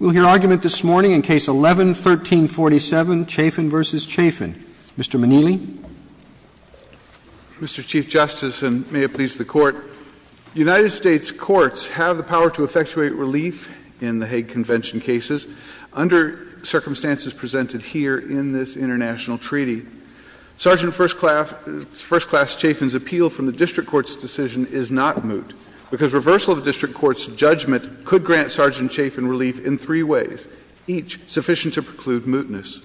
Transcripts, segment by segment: We'll hear argument this morning in Case 11-1347, Chafin v. Chafin. Mr. Manili. Mr. Chief Justice, and may it please the Court, United States courts have the power to effectuate relief in the Hague Convention cases under circumstances presented here in this international treaty. Sgt. First Class Chafin's appeal from the District Court's decision is not moot because reversal of the District Court's judgment could grant Sgt. Chafin relief in three ways, each sufficient to preclude mootness.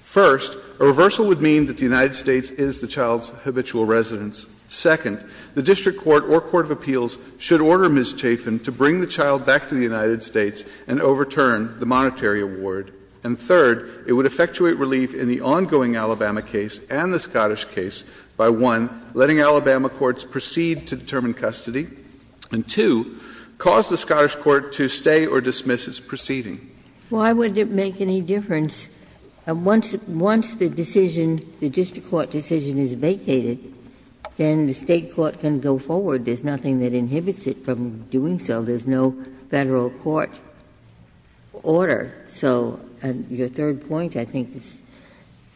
First, a reversal would mean that the United States is the child's habitual residence. Second, the District Court or court of appeals should order Ms. Chafin to bring the child back to the United States and overturn the monetary award. And third, it would effectuate relief in the ongoing Alabama case and the Scottish case by, one, letting Alabama courts proceed to determine custody, and, two, cause the Scottish court to stay or dismiss its proceeding. Ginsburg Why would it make any difference? Once the decision, the District Court decision is vacated, then the State court can go forward. There's nothing that inhibits it from doing so. There's no Federal court order. So your third point, I think, is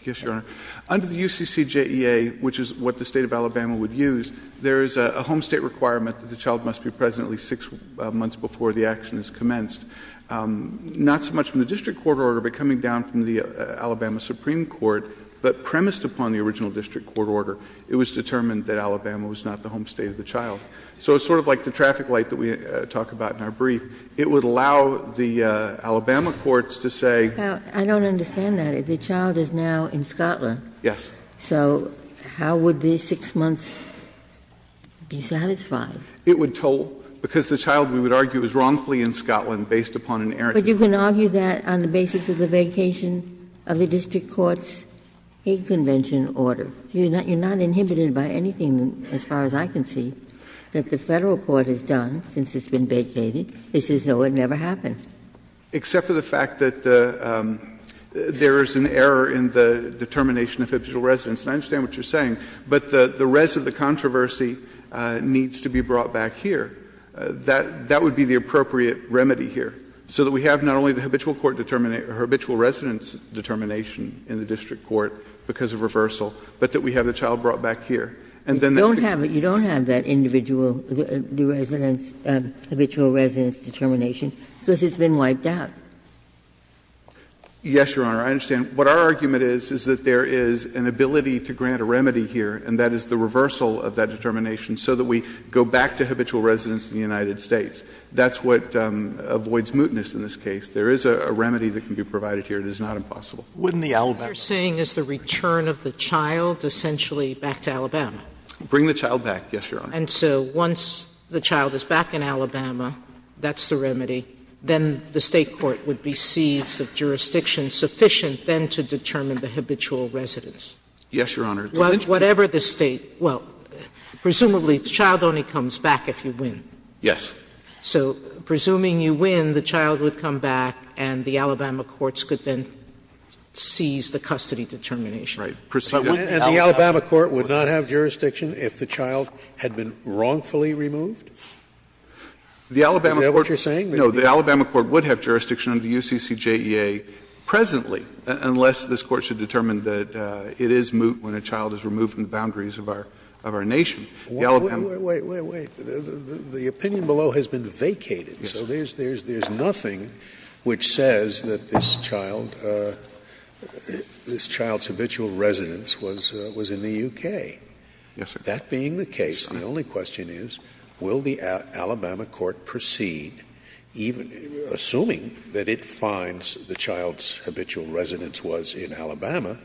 correct. Under the UCCJEA, which is what the State of Alabama would use, there is a home State requirement that the child must be present at least six months before the action is commenced. Not so much from the District Court order, but coming down from the Alabama Supreme Court, but premised upon the original District Court order, it was determined that Alabama was not the home State of the child. So it's sort of like the traffic light that we talk about in our brief. It would allow the Alabama courts to say — Ginsburg Yes. So how would the six months be satisfied? It would toll. Because the child, we would argue, is wrongfully in Scotland based upon an error. But you can argue that on the basis of the vacation of the District Court's hate convention order. You're not inhibited by anything, as far as I can see, that the Federal court has done, since it's been vacated. It says, no, it never happened. Except for the fact that there is an error in the determination of habitual residence. And I understand what you're saying. But the rest of the controversy needs to be brought back here. That would be the appropriate remedy here, so that we have not only the habitual court determination or habitual residence determination in the District Court because of reversal, but that we have the child brought back here. And then that's the case. Ginsburg You don't have that individual residence, habitual residence determination. It says it's been wiped out. Yes, Your Honor, I understand. What our argument is, is that there is an ability to grant a remedy here, and that is the reversal of that determination, so that we go back to habitual residence in the United States. That's what avoids mootness in this case. There is a remedy that can be provided here. It is not impossible. Sotomayor What you're saying is the return of the child essentially back to Alabama. Bring the child back, yes, Your Honor. And so once the child is back in Alabama, that's the remedy. Then the State court would be seized of jurisdiction sufficient then to determine the habitual residence. Yes, Your Honor. Sotomayor Whatever the State, well, presumably the child only comes back if you win. Yes. Sotomayor So presuming you win, the child would come back and the Alabama courts could then seize the custody determination. Right. And the Alabama court would not have jurisdiction if the child had been wrongfully removed? Is that what you're saying? No. The Alabama court would have jurisdiction under the UCCJEA presently, unless this court should determine that it is moot when a child is removed from the boundaries of our nation. Wait, wait, wait. The opinion below has been vacated. So there's nothing which says that this child, this child's habitual residence was in the U.K. Yes, sir. That being the case, the only question is, will the Alabama court proceed, even assuming that it finds the child's habitual residence was in Alabama,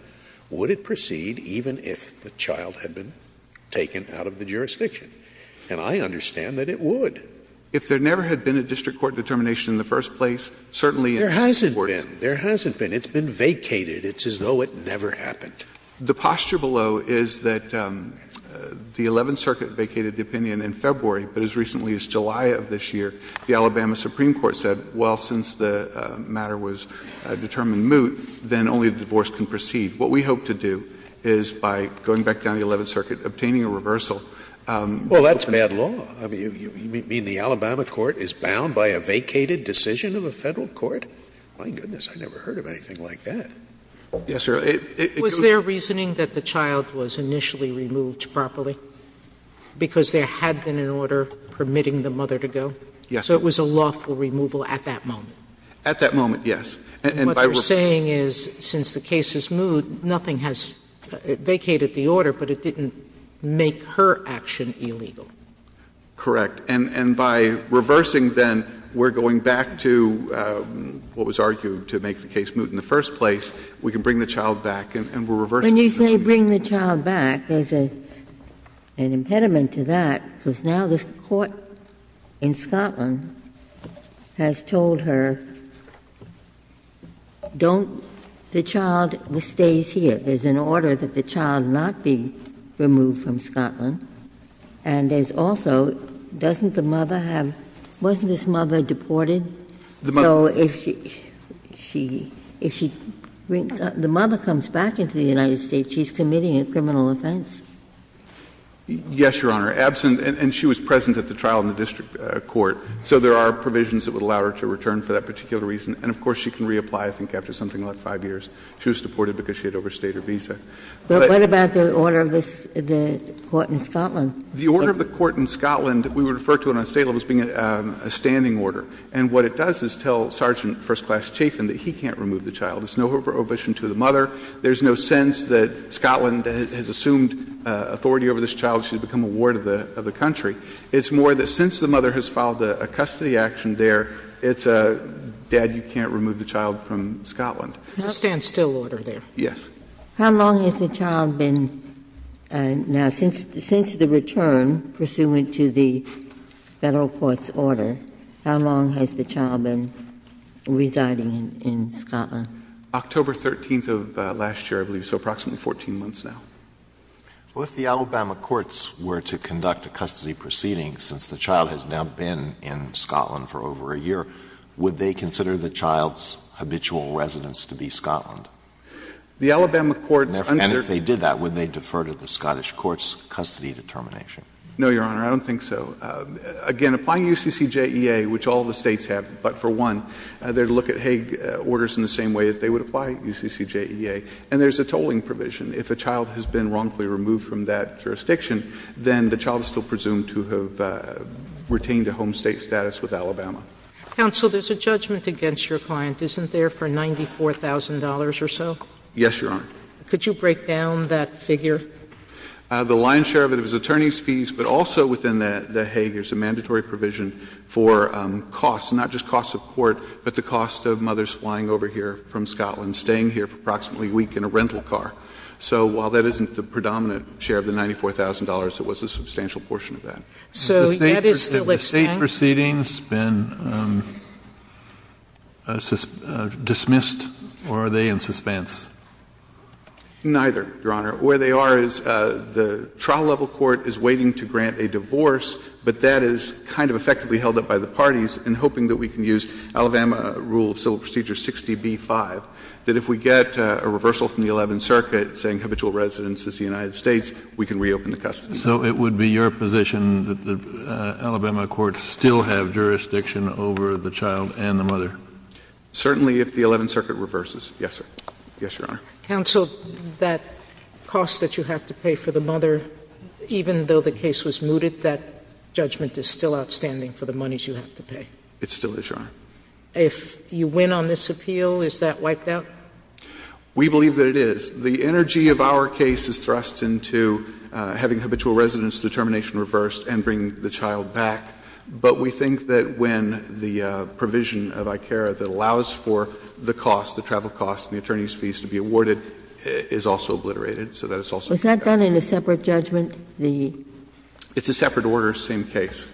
would it proceed even if the child had been taken out of the jurisdiction? And I understand that it would. If there never had been a district court determination in the first place, certainly in this Court. There hasn't been. There hasn't been. It's been vacated. It's as though it never happened. The posture below is that the Eleventh Circuit vacated the opinion in February, but as recently as July of this year, the Alabama Supreme Court said, well, since the matter was determined moot, then only the divorce can proceed. What we hope to do is, by going back down to the Eleventh Circuit, obtaining a reversal. Well, that's bad law. You mean the Alabama court is bound by a vacated decision of a Federal court? My goodness, I never heard of anything like that. Yes, sir. Was there reasoning that the child was initially removed properly because there had been an order permitting the mother to go? Yes. So it was a lawful removal at that moment? At that moment, yes. And by reversal. What you're saying is since the case is moot, nothing has vacated the order, but it didn't make her action illegal? Correct. And by reversing, then, we're going back to what was argued to make the case moot in the first place. We can bring the child back, and we're reversing the decision. When you say bring the child back, there's an impediment to that, because now the court in Scotland has told her, don't the child stays here. There's an order that the child not be removed from Scotland. And there's also, doesn't the mother have — wasn't this mother deported? So if she — if she — the mother comes back into the United States, she's committing a criminal offense? Yes, Your Honor. Absent — and she was present at the trial in the district court. So there are provisions that would allow her to return for that particular reason. And, of course, she can reapply, I think, after something like 5 years. She was deported because she had overstayed her visa. But what about the order of the court in Scotland? The order of the court in Scotland, we would refer to it on a state level as being a standing order. And what it does is tell Sergeant First Class Chafin that he can't remove the child. There's no prohibition to the mother. There's no sense that Scotland has assumed authority over this child. She's become a ward of the country. It's more that since the mother has filed a custody action there, it's a, Dad, you can't remove the child from Scotland. It's a standstill order there. Yes. How long has the child been now, since the return, pursuant to the Federal Court's order, how long has the child been residing in Scotland? October 13th of last year, I believe. So approximately 14 months now. Well, if the Alabama courts were to conduct a custody proceeding, since the child has now been in Scotland for over a year, would they consider the child's habitual residence to be Scotland? The Alabama courts understand that. And if they did that, would they defer to the Scottish courts' custody determination? No, Your Honor, I don't think so. Again, applying UCCJEA, which all the States have, but for one, they would look at Hague orders in the same way that they would apply UCCJEA. And there's a tolling provision. If a child has been wrongfully removed from that jurisdiction, then the child is still presumed to have retained a home State status with Alabama. Sotomayor, there's a judgment against your client, isn't there, for $94,000 or so? Yes, Your Honor. Could you break down that figure? The lion's share of it is attorney's fees, but also within the Hague there's a mandatory provision for costs, not just cost of court, but the cost of mothers flying over here from Scotland, staying here for approximately a week in a rental car. So while that isn't the predominant share of the $94,000, it was a substantial portion of that. So that is still at stake? Have State proceedings been dismissed or are they in suspense? Neither, Your Honor. Where they are is the trial level court is waiting to grant a divorce, but that is kind of effectively held up by the parties in hoping that we can use Alabama rule of civil procedure 60b-5, that if we get a reversal from the Eleventh Circuit saying habitual residence is the United States, we can reopen the custody. So it would be your position that the Alabama courts still have jurisdiction over the child and the mother? Certainly if the Eleventh Circuit reverses, yes, sir. Yes, Your Honor. Counsel, that cost that you have to pay for the mother, even though the case was mooted, that judgment is still outstanding for the monies you have to pay? It still is, Your Honor. If you win on this appeal, is that wiped out? We believe that it is. The energy of our case is thrust into having habitual residence determination reversed and bringing the child back. But we think that when the provision of ICARA that allows for the cost, the travel cost and the attorney's fees to be awarded, is also obliterated. So that is also wiped out. Was that done in a separate judgment? It's a separate order, same case.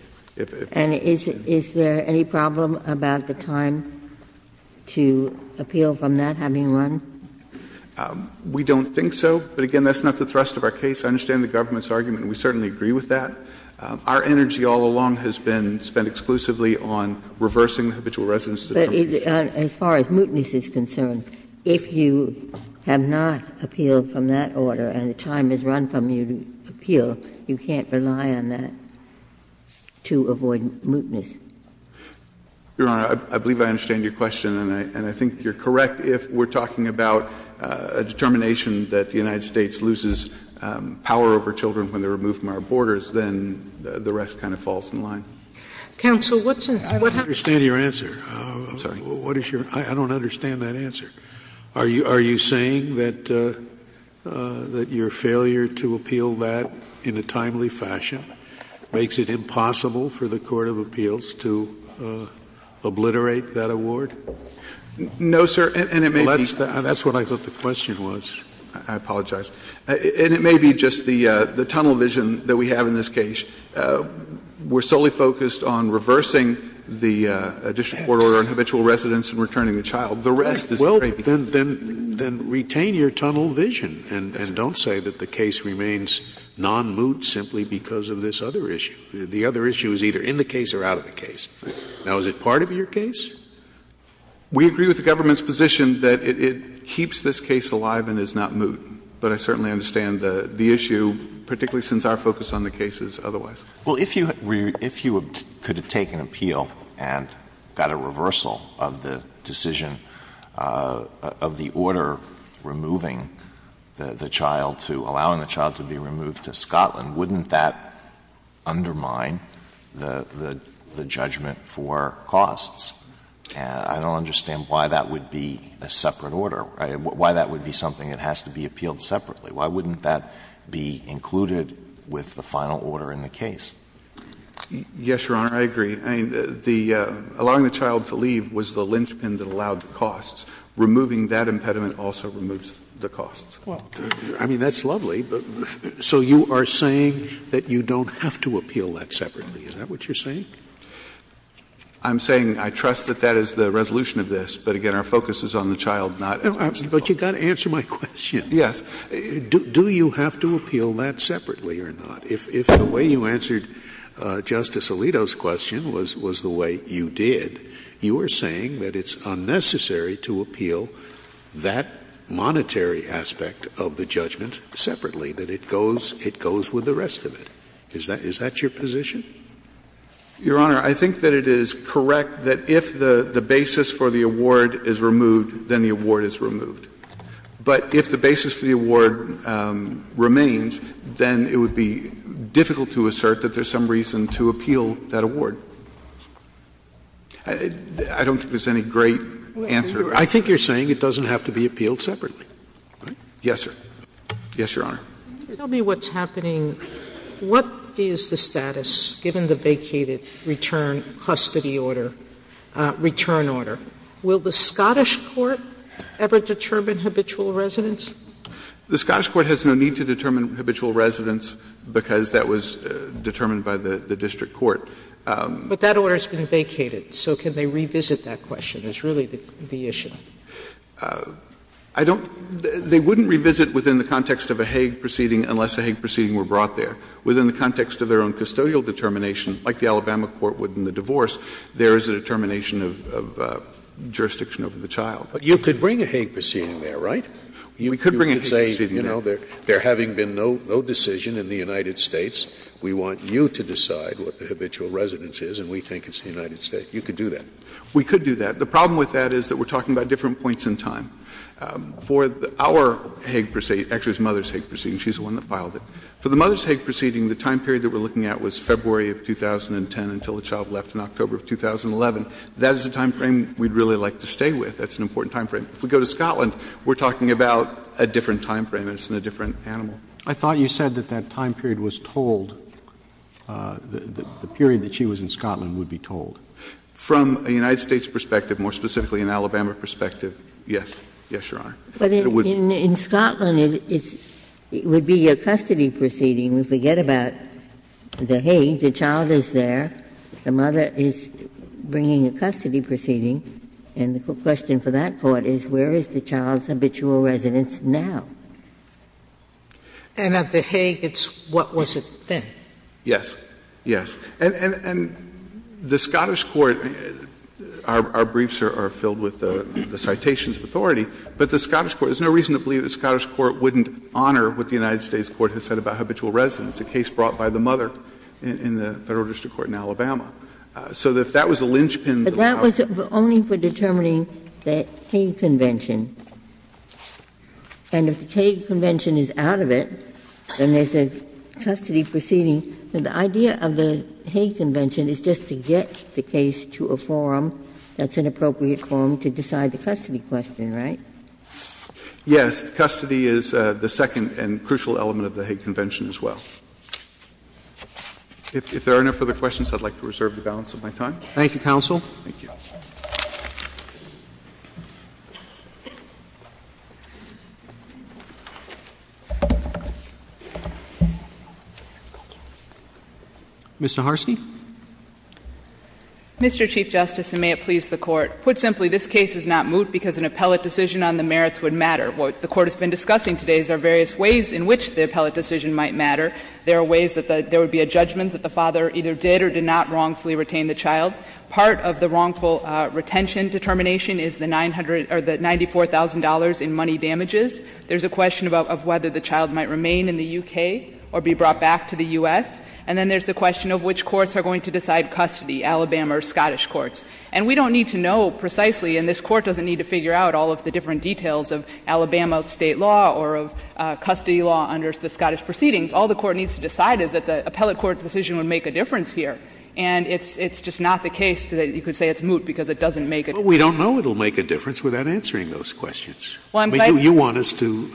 And is there any problem about the time to appeal from that, having won? We don't think so. But, again, that's not the thrust of our case. I understand the government's argument, and we certainly agree with that. Our energy all along has been spent exclusively on reversing the habitual residence determination. But as far as mootness is concerned, if you have not appealed from that order and the time is run from your appeal, you can't rely on that to avoid mootness. Your Honor, I believe I understand your question. And I think you're correct if we're talking about a determination that the United States loses power over children when they're removed from our borders, then the rest kind of falls in line. Counsel, what's in this? I don't understand your answer. I'm sorry. I don't understand that answer. Are you saying that your failure to appeal that in a timely fashion makes it impossible for the court of appeals to obliterate that award? No, sir. And it may be. That's what I thought the question was. I apologize. And it may be just the tunnel vision that we have in this case. We're solely focused on reversing the additional court order on habitual residence and returning the child. The rest is a great deal. Well, then retain your tunnel vision and don't say that the case remains non-moot simply because of this other issue. The other issue is either in the case or out of the case. Now, is it part of your case? We agree with the government's position that it keeps this case alive and is not moot, but I certainly understand the issue, particularly since our focus on the case is otherwise. Well, if you could have taken appeal and got a reversal of the decision of the order removing the child to — allowing the child to be removed to Scotland, wouldn't that undermine the judgment for costs? And I don't understand why that would be a separate order, why that would be something that has to be appealed separately. Why wouldn't that be included with the final order in the case? Yes, Your Honor, I agree. I mean, the — allowing the child to leave was the linchpin that allowed the costs. Removing that impediment also removes the costs. Well, I mean, that's lovely. So you are saying that you don't have to appeal that separately. Is that what you're saying? I'm saying I trust that that is the resolution of this, but, again, our focus is on the child, not — But you've got to answer my question. Yes. Do you have to appeal that separately or not? If the way you answered Justice Alito's question was the way you did, you are saying that it's unnecessary to appeal that monetary aspect of the judgment separately, that it goes — it goes with the rest of it. Is that — is that your position? Your Honor, I think that it is correct that if the basis for the award is removed, then the award is removed. But if the basis for the award remains, then it would be difficult to assert that there's some reason to appeal that award. I don't think there's any great answer to that. I think you're saying it doesn't have to be appealed separately. Yes, sir. Yes, Your Honor. Tell me what's happening. What is the status, given the vacated return custody order, return order? Will the Scottish court ever determine habitual residence? The Scottish court has no need to determine habitual residence because that was determined by the district court. But that order has been vacated. So can they revisit that question is really the issue. I don't — they wouldn't revisit within the context of a Hague proceeding unless a Hague proceeding were brought there. Within the context of their own custodial determination, like the Alabama court would in the divorce, there is a determination of jurisdiction over the child. But you could bring a Hague proceeding there, right? We could bring a Hague proceeding there. You could say, you know, there having been no decision in the United States, we want you to decide what the habitual residence is and we think it's the United States. You could do that. We could do that. The problem with that is that we're talking about different points in time. For our Hague proceeding, actually it's the mother's Hague proceeding. She's the one that filed it. For the mother's Hague proceeding, the time period that we're looking at was February of 2010 until the child left in October of 2011. That is a time frame we'd really like to stay with. That's an important time frame. If we go to Scotland, we're talking about a different time frame and it's in a different animal. I thought you said that that time period was told, the period that she was in Scotland would be told. From a United States perspective, more specifically an Alabama perspective, yes. Yes, Your Honor. But in Scotland, it would be a custody proceeding. We forget about the Hague. The child is there. The mother is bringing a custody proceeding. And the question for that Court is where is the child's habitual residence now? And at the Hague, it's what was it then? Yes. Yes. And the Scottish court, our briefs are filled with the citations of authority, but the Scottish court, there's no reason to believe the Scottish court wouldn't honor what the United States court has said about habitual residence, a case brought by the mother in the Federal District Court in Alabama. So if that was a linchpin that allowed it. But that was only for determining the Hague Convention. And if the Hague Convention is out of it, then there's a custody proceeding. The idea of the Hague Convention is just to get the case to a forum that's an appropriate forum to decide the custody question, right? Yes. Custody is the second and crucial element of the Hague Convention as well. If there are no further questions, I'd like to reserve the balance of my time. Thank you, counsel. Mr. Harsky. Mr. Chief Justice, and may it please the Court. Put simply, this case is not moot because an appellate decision on the merits would matter. What the Court has been discussing today is there are various ways in which the appellate decision might matter. There are ways that there would be a judgment that the father either did or did not wrongfully retain the child. Part of the wrongful retention determination is the $94,000 in money damages. There's a question of whether the child might remain in the U.K. or be brought back to the U.S. And then there's the question of which courts are going to decide custody, Alabama or Scottish courts. And we don't need to know precisely, and this Court doesn't need to figure out all of the different details of Alabama State law or of custody law under the Scottish proceedings. All the Court needs to decide is that the appellate court decision would make a difference here. And it's just not the case that you could say it's moot because it doesn't make a difference. Scalia Well, we don't know it will make a difference without answering those questions. You want us to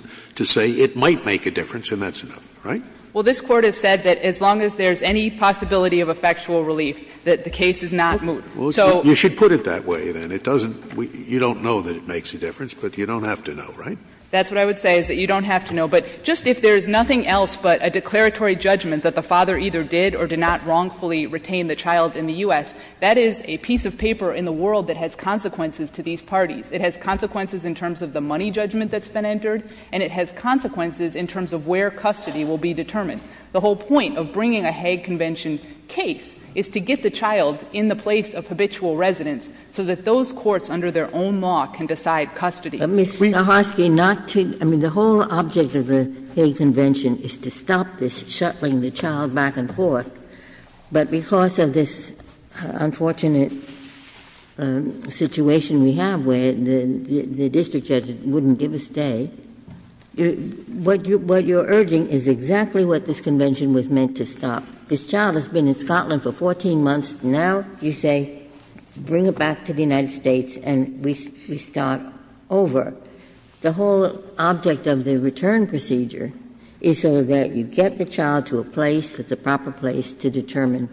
say it might make a difference and that's enough, right? Saharsky Well, this Court has said that as long as there's any possibility of effectual relief, that the case is not moot. Scalia Well, you should put it that way, then. It doesn't — you don't know that it makes a difference, but you don't have to know, right? Saharsky That's what I would say, is that you don't have to know. But just if there is nothing else but a declaratory judgment that the father either did or did not wrongfully retain the child in the U.S., that is a piece of paper in the world that has consequences to these parties. It has consequences in terms of the money judgment that's been entered, and it has consequences in terms of where custody will be determined. The whole point of bringing a Hague Convention case is to get the child in the place of habitual residence so that those courts, under their own law, can decide custody. Ginsburg Ms. Saharsky, not to — I mean, the whole object of the Hague Convention is to stop this shuttling the child back and forth. But because of this unfortunate situation we have where the district judge wouldn't give a stay, what you're urging is exactly what this convention was meant to stop. This child has been in Scotland for 14 months. Now you say bring it back to the United States and we start over. The whole object of the return procedure is so that you get the child to a place that's a proper place to determine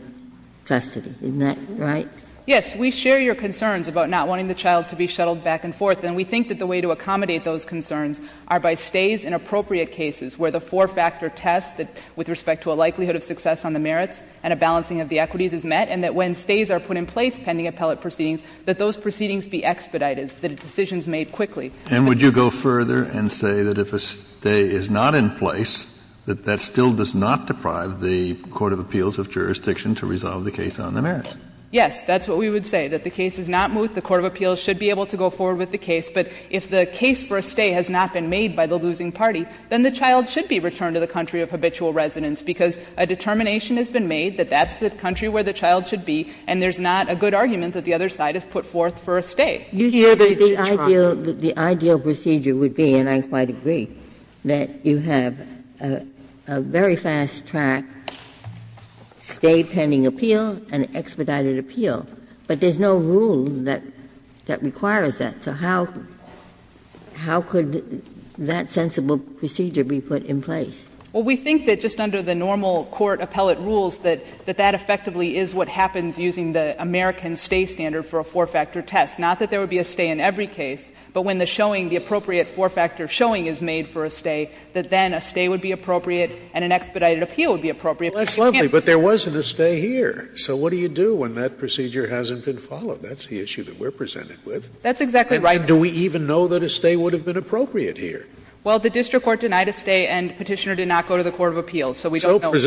custody. Isn't that right? Saharsky Yes. We share your concerns about not wanting the child to be shuttled back and forth. And we think that the way to accommodate those concerns are by stays in appropriate cases where the four-factor test with respect to a likelihood of success on the merits and a balancing of the equities is met, and that when stays are put in place pending appellate proceedings, that those proceedings be expedited, that decisions made quickly. Kennedy And would you go further and say that if a stay is not in place, that that still does not deprive the court of appeals of jurisdiction to resolve the case on the merits? Saharsky Yes, that's what we would say, that the case is not moved. The court of appeals should be able to go forward with the case. But if the case for a stay has not been made by the losing party, then the child should be returned to the country of habitual residence because a determination has been made that that's the country where the child should be, and there's not a good argument that the other side has put forth for a stay. Ginsburg You said the ideal procedure would be, and I quite agree, that you have a very fast-track stay pending appeal and expedited appeal, but there's no rule that requires that. So how could that sensible procedure be put in place? Saharsky Well, we think that just under the normal court appellate rules, that that effectively is what happens using the American stay standard for a four-factor test, not that there would be a stay in every case, but when the showing, the appropriate four-factor showing is made for a stay, that then a stay would be appropriate and an expedited appeal would be appropriate. Scalia Well, that's lovely, but there wasn't a stay here. So what do you do when that procedure hasn't been followed? That's the issue that we're presented with. Saharsky That's exactly right. Scalia And do we even know that a stay would have been appropriate here? Saharsky Well, the district court denied a stay and Petitioner did not go to the court of appeals, so we don't know. Scalia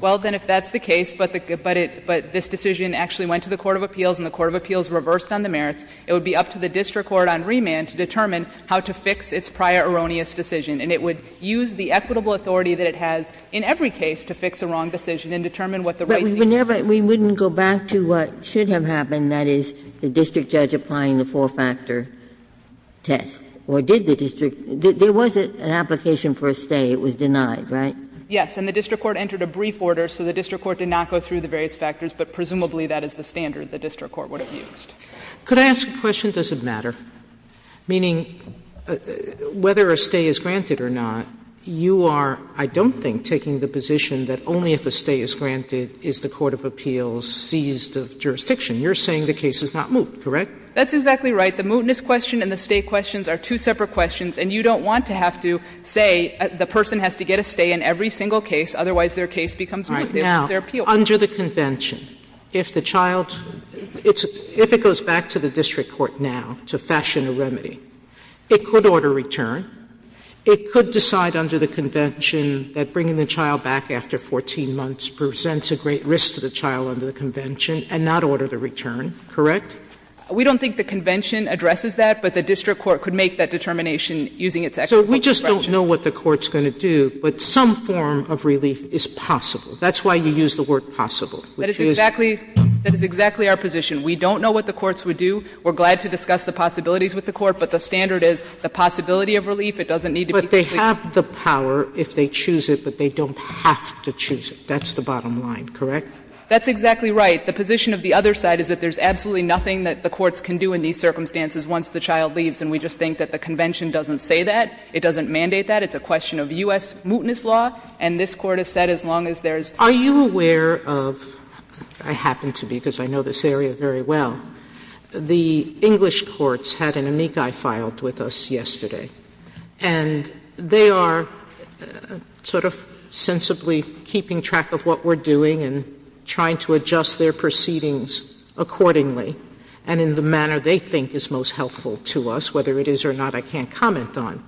Well, that's the case, but this decision actually went to the court of appeals and the court of appeals reversed on the merits. It would be up to the district court on remand to determine how to fix its prior erroneous decision. And it would use the equitable authority that it has in every case to fix a wrong decision and determine what the right thing to do is. Ginsburg But we wouldn't go back to what should have happened, that is, the district judge applying the four-factor test, or did the district? There was an application for a stay. It was denied, right? Saharsky Yes. And the district court entered a brief order, so the district court did not go through the various factors, but presumably that is the standard the district court would have used. Sotomayor Could I ask a question? Does it matter? Meaning, whether a stay is granted or not, you are, I don't think, taking the position that only if a stay is granted is the court of appeals seized of jurisdiction. You're saying the case is not moot, correct? Saharsky That's exactly right. The mootness question and the stay questions are two separate questions, and you don't want to have to say the person has to get a stay in every single case, otherwise their case becomes moot. They're appeal. Sotomayor All right. Now, under the convention, if the child goes back to the district court now to fashion a remedy, it could order return, it could decide under the convention that bringing the child back after 14 months presents a great risk to the child under the convention and not order the return, correct? Saharsky We don't think the convention addresses that, but the district court could make that determination using its equitable discretion. Sotomayor So we just don't know what the court's going to do, but some form of relief is possible. That's why you use the word possible, which is? Saharsky That is exactly our position. We don't know what the courts would do. We're glad to discuss the possibilities with the court, but the standard is the possibility of relief, it doesn't need to be completely. Sotomayor But they have the power if they choose it, but they don't have to choose it. That's the bottom line, correct? Saharsky That's exactly right. The position of the other side is that there's absolutely nothing that the courts can do in these circumstances once the child leaves, and we just think that the convention doesn't say that. It doesn't mandate that. It's a question of U.S. mootness law, and this Court has said as long as there's no mootness law, there's no way to do anything. Sotomayor Are you aware of — I happen to be because I know this area very well — the English courts had an amici filed with us yesterday, and they are sort of sensibly keeping track of what we're doing and trying to adjust their proceedings accordingly. And in the manner they think is most helpful to us, whether it is or not, I can't comment on.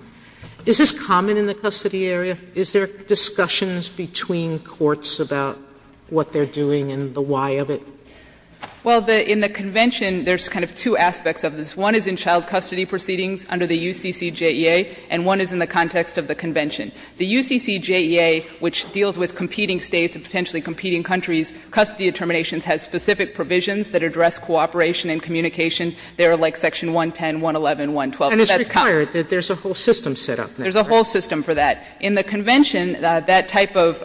Is this common in the custody area? Is there discussions between courts about what they're doing and the why of it? Saharsky Well, in the convention, there's kind of two aspects of this. One is in child custody proceedings under the UCCJEA, and one is in the context of the convention. The UCCJEA, which deals with competing States and potentially competing countries, custody determinations has specific provisions that address cooperation and communication. They are like section 110, 111, 112. Sotomayor And it's required. There's a whole system set up. Saharsky There's a whole system for that. In the convention, that type of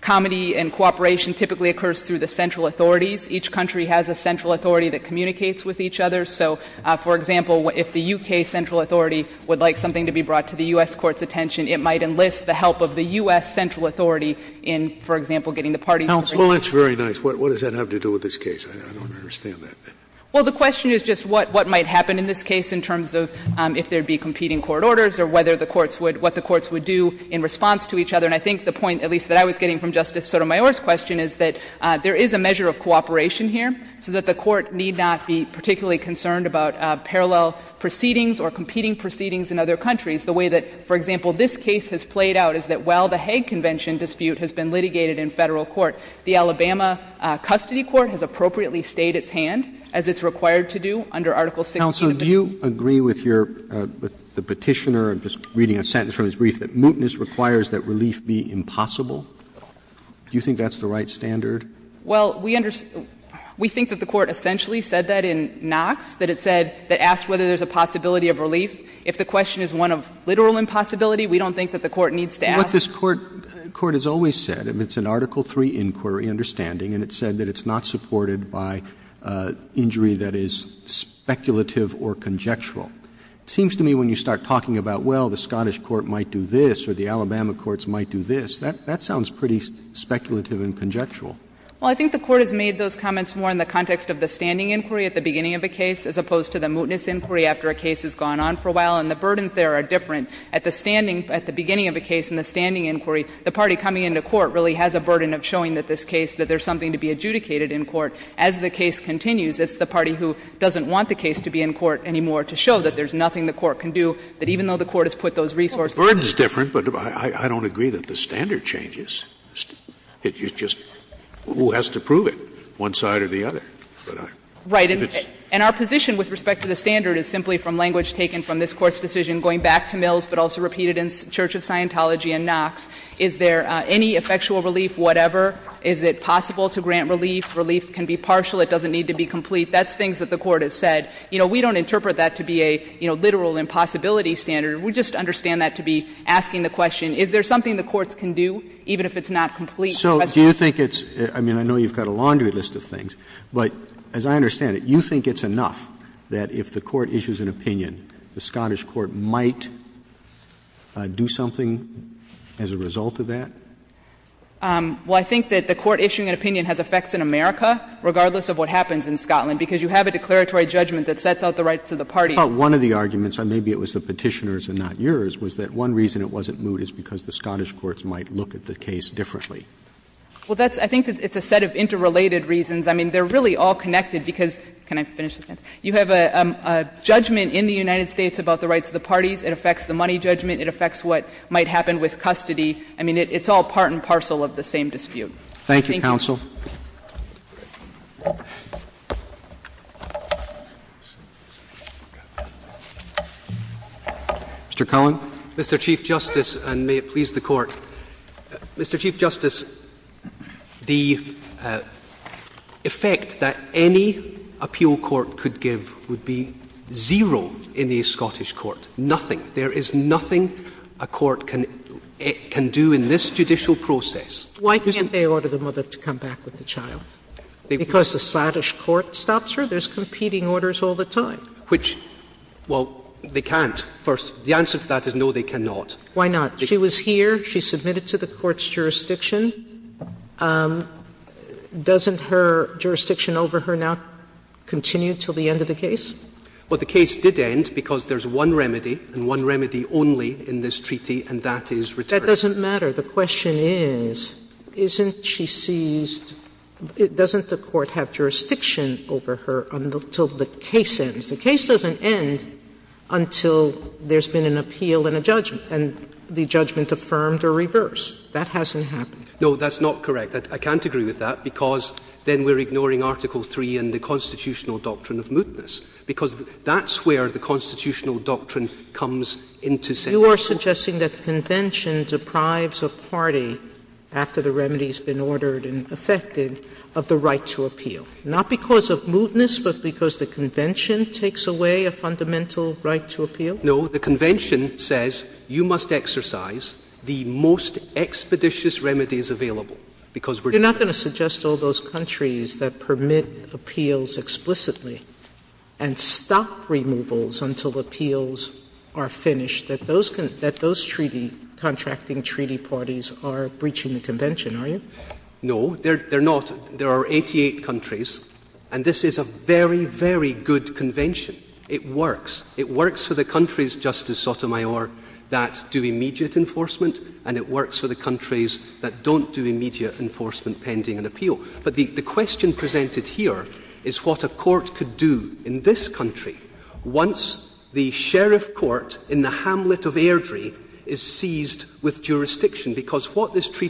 comity and cooperation typically occurs through the central authorities. Each country has a central authority that communicates with each other. So, for example, if the U.K. central authority would like something to be brought to the U.S. Court's attention, it might enlist the help of the U.S. central authority in, for example, getting the parties to agree. Scalia Well, that's very nice. What does that have to do with this case? I don't understand that. Saharsky Well, the question is just what might happen in this case in terms of if there would be competing court orders or whether the courts would, what the courts would do in response to each other. And I think the point, at least, that I was getting from Justice Sotomayor's question is that there is a measure of cooperation here, so that the Court need not be particularly concerned about parallel proceedings or competing proceedings in other countries. The way that, for example, this case has played out is that while the Hague Convention dispute has been litigated in Federal court, the Alabama custody court has appropriately stayed its hand, as it's required to do under Article 16 of the Convention. Roberts Counsel, do you agree with your, with the Petitioner, I'm just reading a sentence from his brief, that mootness requires that relief be impossible? Do you think that's the right standard? Saharsky Well, we understand, we think that the Court essentially said that in Knox, that it said, that asked whether there's a possibility of relief. If the question is one of literal impossibility, we don't think that the Court needs to ask. Roberts But what this Court has always said, it's an Article III inquiry understanding, and it said that it's not supported by injury that is speculative or conjectural. It seems to me when you start talking about, well, the Scottish court might do this or the Alabama courts might do this, that sounds pretty speculative and conjectural. Saharsky Well, I think the Court has made those comments more in the context of the standing inquiry at the beginning of a case, as opposed to the mootness inquiry after a case has gone on for a while, and the burdens there are different. At the standing, at the beginning of a case in the standing inquiry, the party coming into court really has a burden of showing that this case, that there's something to be adjudicated in court. As the case continues, it's the party who doesn't want the case to be in court anymore to show that there's nothing the court can do, that even though the Court has put those resources there. Scalia Well, the burden is different, but I don't agree that the standard changes. It's just who has to prove it, one side or the other. Saharsky Right. And our position with respect to the standard is simply from language taken from this case, but also repeated in Church of Scientology and Knox, is there any effectual relief, whatever? Is it possible to grant relief? Relief can be partial. It doesn't need to be complete. That's things that the Court has said. You know, we don't interpret that to be a, you know, literal impossibility standard. We just understand that to be asking the question, is there something the courts can do, even if it's not complete? Roberts So do you think it's — I mean, I know you've got a laundry list of things, but as I understand it, you think it's enough that if the Court issues an opinion, the Scottish court might do something as a result of that? Saharsky Well, I think that the court issuing an opinion has effects in America, regardless of what happens in Scotland, because you have a declaratory judgment that sets out the rights of the parties. Roberts But one of the arguments, and maybe it was the Petitioner's and not yours, was that one reason it wasn't moved is because the Scottish courts might look at the case differently. Saharsky Well, that's — I think it's a set of interrelated reasons. I mean, they're really all connected because — can I finish this sentence? You have a judgment in the United States about the rights of the parties. It affects the money judgment. It affects what might happen with custody. I mean, it's all part and parcel of the same dispute. Roberts Thank you, counsel. Mr. Cullen. Cullen Mr. Chief Justice, and may it please the Court. Mr. Chief Justice, the effect that any appeal court could give would be zero in the Scottish court. Nothing. There is nothing a court can do in this judicial process. Sotomayor Why can't they order the mother to come back with the child? Because the Scottish court stops her? There's competing orders all the time. Cullen Which — well, they can't, first. The answer to that is no, they cannot. Sotomayor Why not? She was here. She submitted to the court's jurisdiction. Doesn't her jurisdiction over her now continue until the end of the case? Cullen Well, the case did end because there's one remedy, and one remedy only in this treaty, and that is return. Sotomayor That doesn't matter. The question is, isn't she seized? Doesn't the court have jurisdiction over her until the case ends? The case doesn't end until there's been an appeal and a judgment, and the judgment affirmed or reversed. That hasn't happened. Cullen No, that's not correct. I can't agree with that, because then we're ignoring Article III and the constitutional doctrine of mootness, because that's where the constitutional doctrine comes into section. Sotomayor You are suggesting that the Convention deprives a party, after the remedy has been ordered and effected, of the right to appeal, not because of mootness, but because the Convention takes away a fundamental right to appeal? Cullen No. The Convention says you must exercise the most expeditious remedies available, because we're doing that. Sotomayor You're not going to suggest all those countries that permit appeals explicitly and stop removals until appeals are finished, that those treaty – contracting treaty parties are breaching the Convention, are you? Cullen No, they're not. There are 88 countries, and this is a very, very good Convention. It works. It works for the countries, Justice Sotomayor, that do immediate enforcement, and it works for the countries that don't do immediate enforcement pending an appeal. But the question presented here is what a court could do in this country once the sheriff court in the hamlet of Airdrie is seized with jurisdiction, because what this the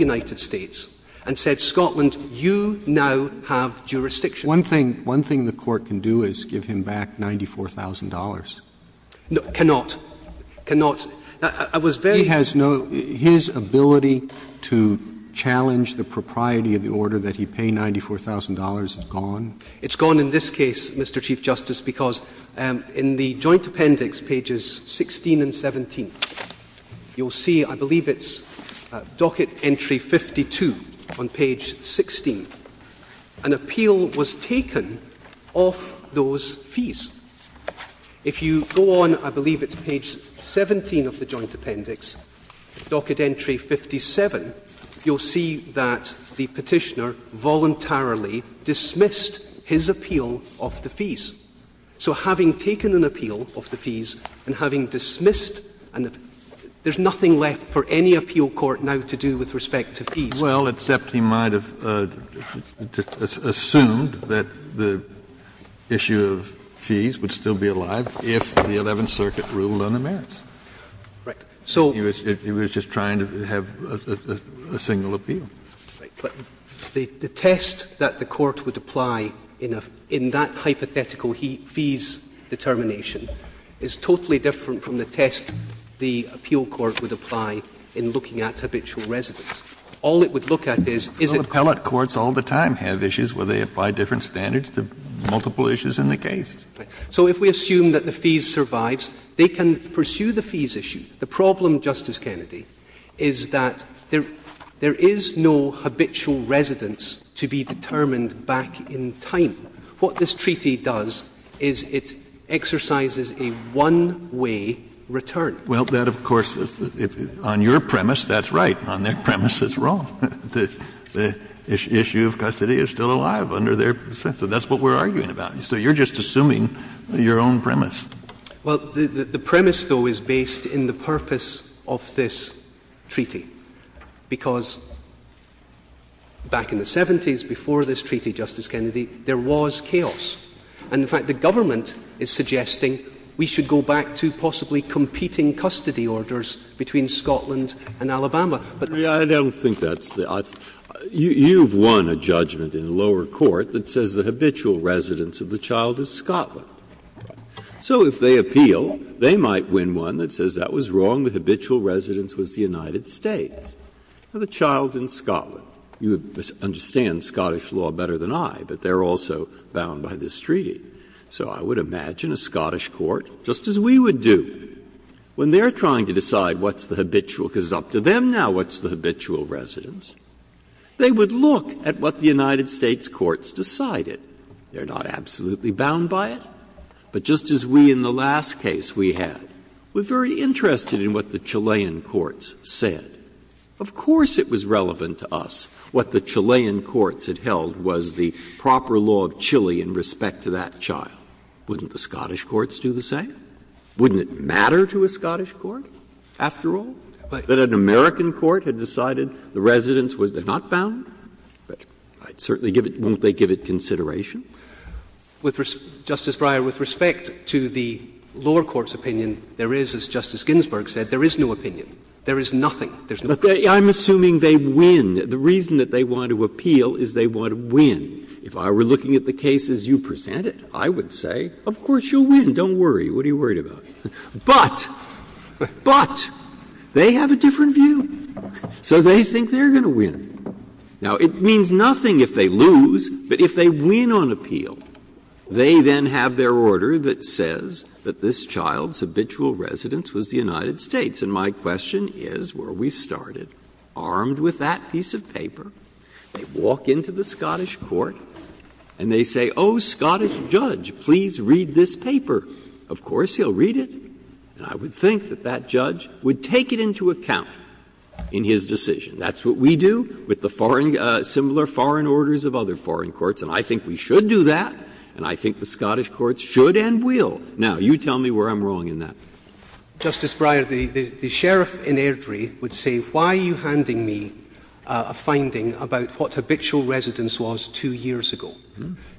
United States and said, Scotland, you now have jurisdiction. Roberts One thing the court can do is give him back $94,000. Cullen Cannot. Cannot. I was very— Roberts He has no – his ability to challenge the propriety of the order that he pay $94,000 is gone? Cullen It's gone in this case, Mr. Chief Justice, because in the joint appendix, pages 16 and 17, you'll see, I believe it's docket entry 52 on page 16, an appeal was taken off those fees. If you go on, I believe it's page 17 of the joint appendix, docket entry 57, you'll see that the petitioner voluntarily dismissed his appeal of the fees. So having taken an appeal of the fees and having dismissed – there's nothing left for any appeal court now to do with respect to fees. Kennedy Well, except he might have assumed that the issue of fees would still be alive if the Eleventh Circuit ruled on the merits. Cullen Right. Kennedy He was just trying to have a single appeal. Cullen Right. But the test that the court would apply in that hypothetical fees determination is totally different from the test the appeal court would apply in looking at habitual residence. All it would look at is, is it— Kennedy Well, appellate courts all the time have issues where they apply different standards to multiple issues in the case. Cullen Right. So if we assume that the fees survives, they can pursue the fees issue. The problem, Justice Kennedy, is that there is no habitual residence to be determined back in time. What this treaty does is it exercises a one-way return. Kennedy Well, that, of course, on your premise, that's right. On their premise, that's wrong. The issue of custody is still alive under their defense. So that's what we're arguing about. So you're just assuming your own premise. Cullen Well, the premise, though, is based in the purpose of this treaty. Because back in the 70s, before this treaty, Justice Kennedy, there was chaos. And, in fact, the government is suggesting we should go back to possibly competing custody orders between Scotland and Alabama. But— Breyer I don't think that's the—you've won a judgment in the lower court that says the habitual residence of the child is Scotland. So if they appeal, they might win one that says that was wrong, the habitual residence was the United States. Now, the child's in Scotland. You understand Scottish law better than I, but they're also bound by this treaty. So I would imagine a Scottish court, just as we would do, when they're trying to decide what's the habitual, because it's up to them now what's the habitual residence, they would look at what the United States courts decided. They're not absolutely bound by it. But just as we, in the last case we had, were very interested in what the Chilean courts said. Of course it was relevant to us what the Chilean courts had held was the proper law of Chile in respect to that child. Wouldn't the Scottish courts do the same? Wouldn't it matter to a Scottish court, after all, that an American court had decided the residence was not bound? I'd certainly give it — won't they give it consideration? With — Justice Breyer, with respect to the lower court's opinion, there is, as Justice Ginsburg said, there is no opinion. There is nothing. There's no opinion. I'm assuming they win. The reason that they want to appeal is they want to win. If I were looking at the cases you presented, I would say, of course you'll win. Don't worry. What are you worried about? But, but, they have a different view. So they think they're going to win. Now, it means nothing if they lose, but if they win on appeal, they then have their order that says that this child's habitual residence was the United States. And my question is, were we started armed with that piece of paper, they walk into the Scottish court and they say, oh, Scottish judge, please read this paper. Of course he'll read it. And I would think that that judge would take it into account in his decision. That's what we do. With the foreign — similar foreign orders of other foreign courts. And I think we should do that, and I think the Scottish courts should and will. Now, you tell me where I'm wrong in that. Justice Breyer, the sheriff in Airdrie would say, why are you handing me a finding about what habitual residence was two years ago?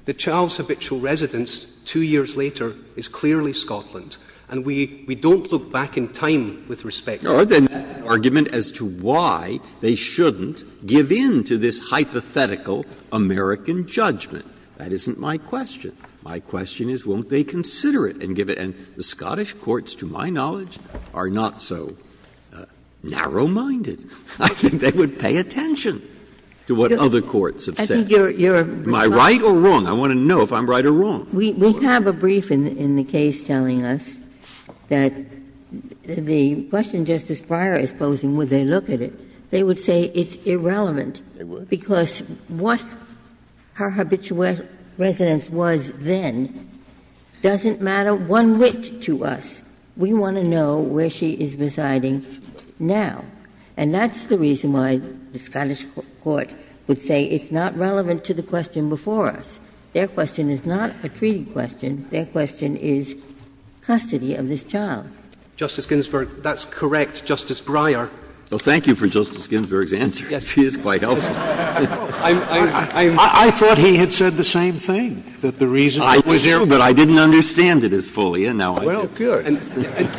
The child's habitual residence two years later is clearly Scotland, and we don't look back in time with respect to that. Or the argument as to why they shouldn't give in to this hypothetical American judgment. That isn't my question. My question is, won't they consider it and give it? And the Scottish courts, to my knowledge, are not so narrow-minded. I think they would pay attention to what other courts have said. Am I right or wrong? I want to know if I'm right or wrong. Ginsburg We have a brief in the case telling us that the question Justice Breyer is posing, would they look at it, they would say it's irrelevant, because what her habitual residence was then doesn't matter one whit to us. We want to know where she is residing now. And that's the reason why the Scottish court would say it's not relevant to the question before us. Their question is not a treaty question. Their question is custody of this child. Roberts Justice Ginsburg, that's correct. Justice Breyer. Breyer Thank you for Justice Ginsburg's answer. She is quite helpful. I thought he had said the same thing, that the reason that was there was that I didn't understand it as fully, and now I do. Roberts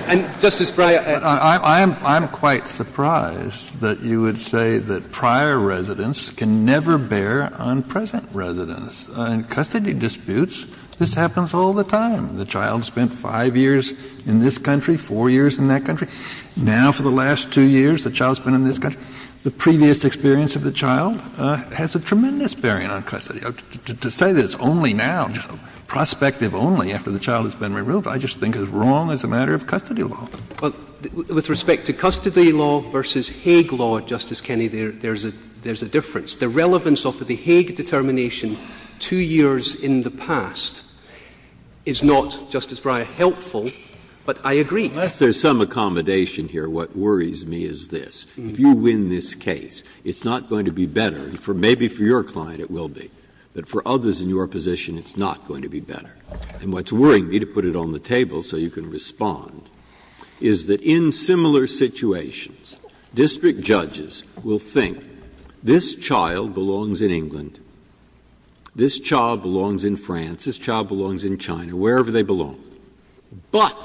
And Justice Breyer, I'm quite surprised that you would say that prior residence can never bear on present residence. In custody disputes, this happens all the time. The child spent five years in this country, four years in that country. Now for the last two years, the child's been in this country. The previous experience of the child has a tremendous bearing on custody. To say that it's only now, prospective only, after the child has been removed, I just think is wrong as a matter of custody law. Roberts With respect to custody law versus Hague law, Justice Kennedy, there's a difference. The relevance of the Hague determination two years in the past is not, Justice Breyer, helpful, but I agree. Breyer Unless there's some accommodation here, what worries me is this. If you win this case, it's not going to be better. Maybe for your client it will be, but for others in your position, it's not going to be better. And what's worrying me, to put it on the table so you can respond, is that in similar situations, district judges will think this child belongs in England, this child belongs in France, this child belongs in China, wherever they belong, but,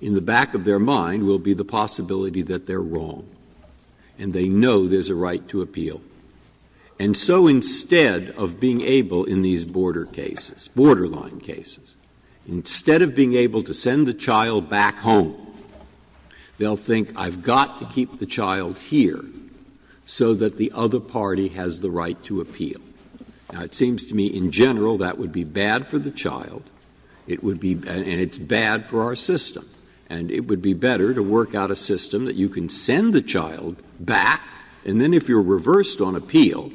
in the back of their mind, will be the possibility that they're wrong, and they know there's a right to appeal. And so instead of being able in these border cases, borderline cases, instead of being able to say, I've got to keep the child here so that the other party has the right to appeal. Now, it seems to me, in general, that would be bad for the child, it would be — and it's bad for our system. And it would be better to work out a system that you can send the child back, and then, if you're reversed on appeal,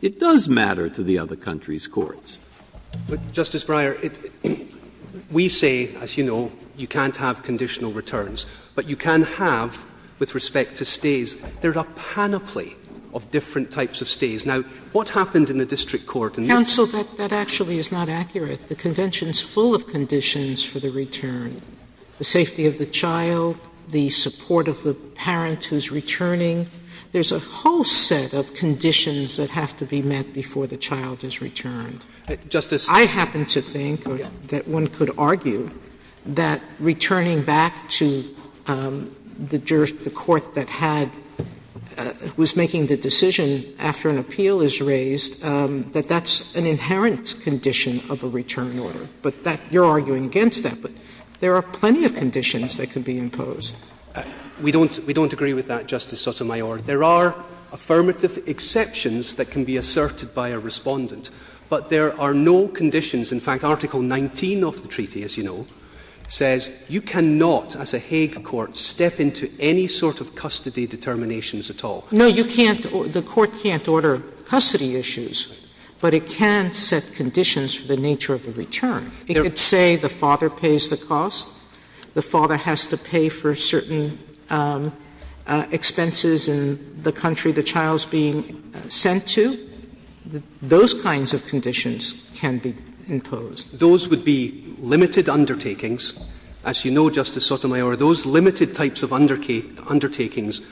it does matter to the other country's courts. Roberts Justice Breyer, we say, as you know, you can't have conditional returns. But you can have, with respect to stays, there are a panoply of different types of stays. Now, what happened in the district court in this case? Counsel, that actually is not accurate. The Convention's full of conditions for the return. The safety of the child, the support of the parent who's returning. There's a whole set of conditions that have to be met before the child is returned. Justice — I happen to think, or that one could argue, that returning back to the court that had — was making the decision after an appeal is raised, that that's an inherent condition of a return order. But that — you're arguing against that, but there are plenty of conditions that can be imposed. We don't — we don't agree with that, Justice Sotomayor. There are affirmative exceptions that can be asserted by a Respondent. But there are no conditions — in fact, Article 19 of the treaty, as you know, says you cannot, as a Hague court, step into any sort of custody determinations at all. No, you can't — the court can't order custody issues, but it can set conditions for the nature of the return. It could say the father pays the cost, the father has to pay for certain expenses in the country the child's being sent to. Those kinds of conditions can be imposed. Those would be limited undertakings. As you know, Justice Sotomayor, those limited types of undertakings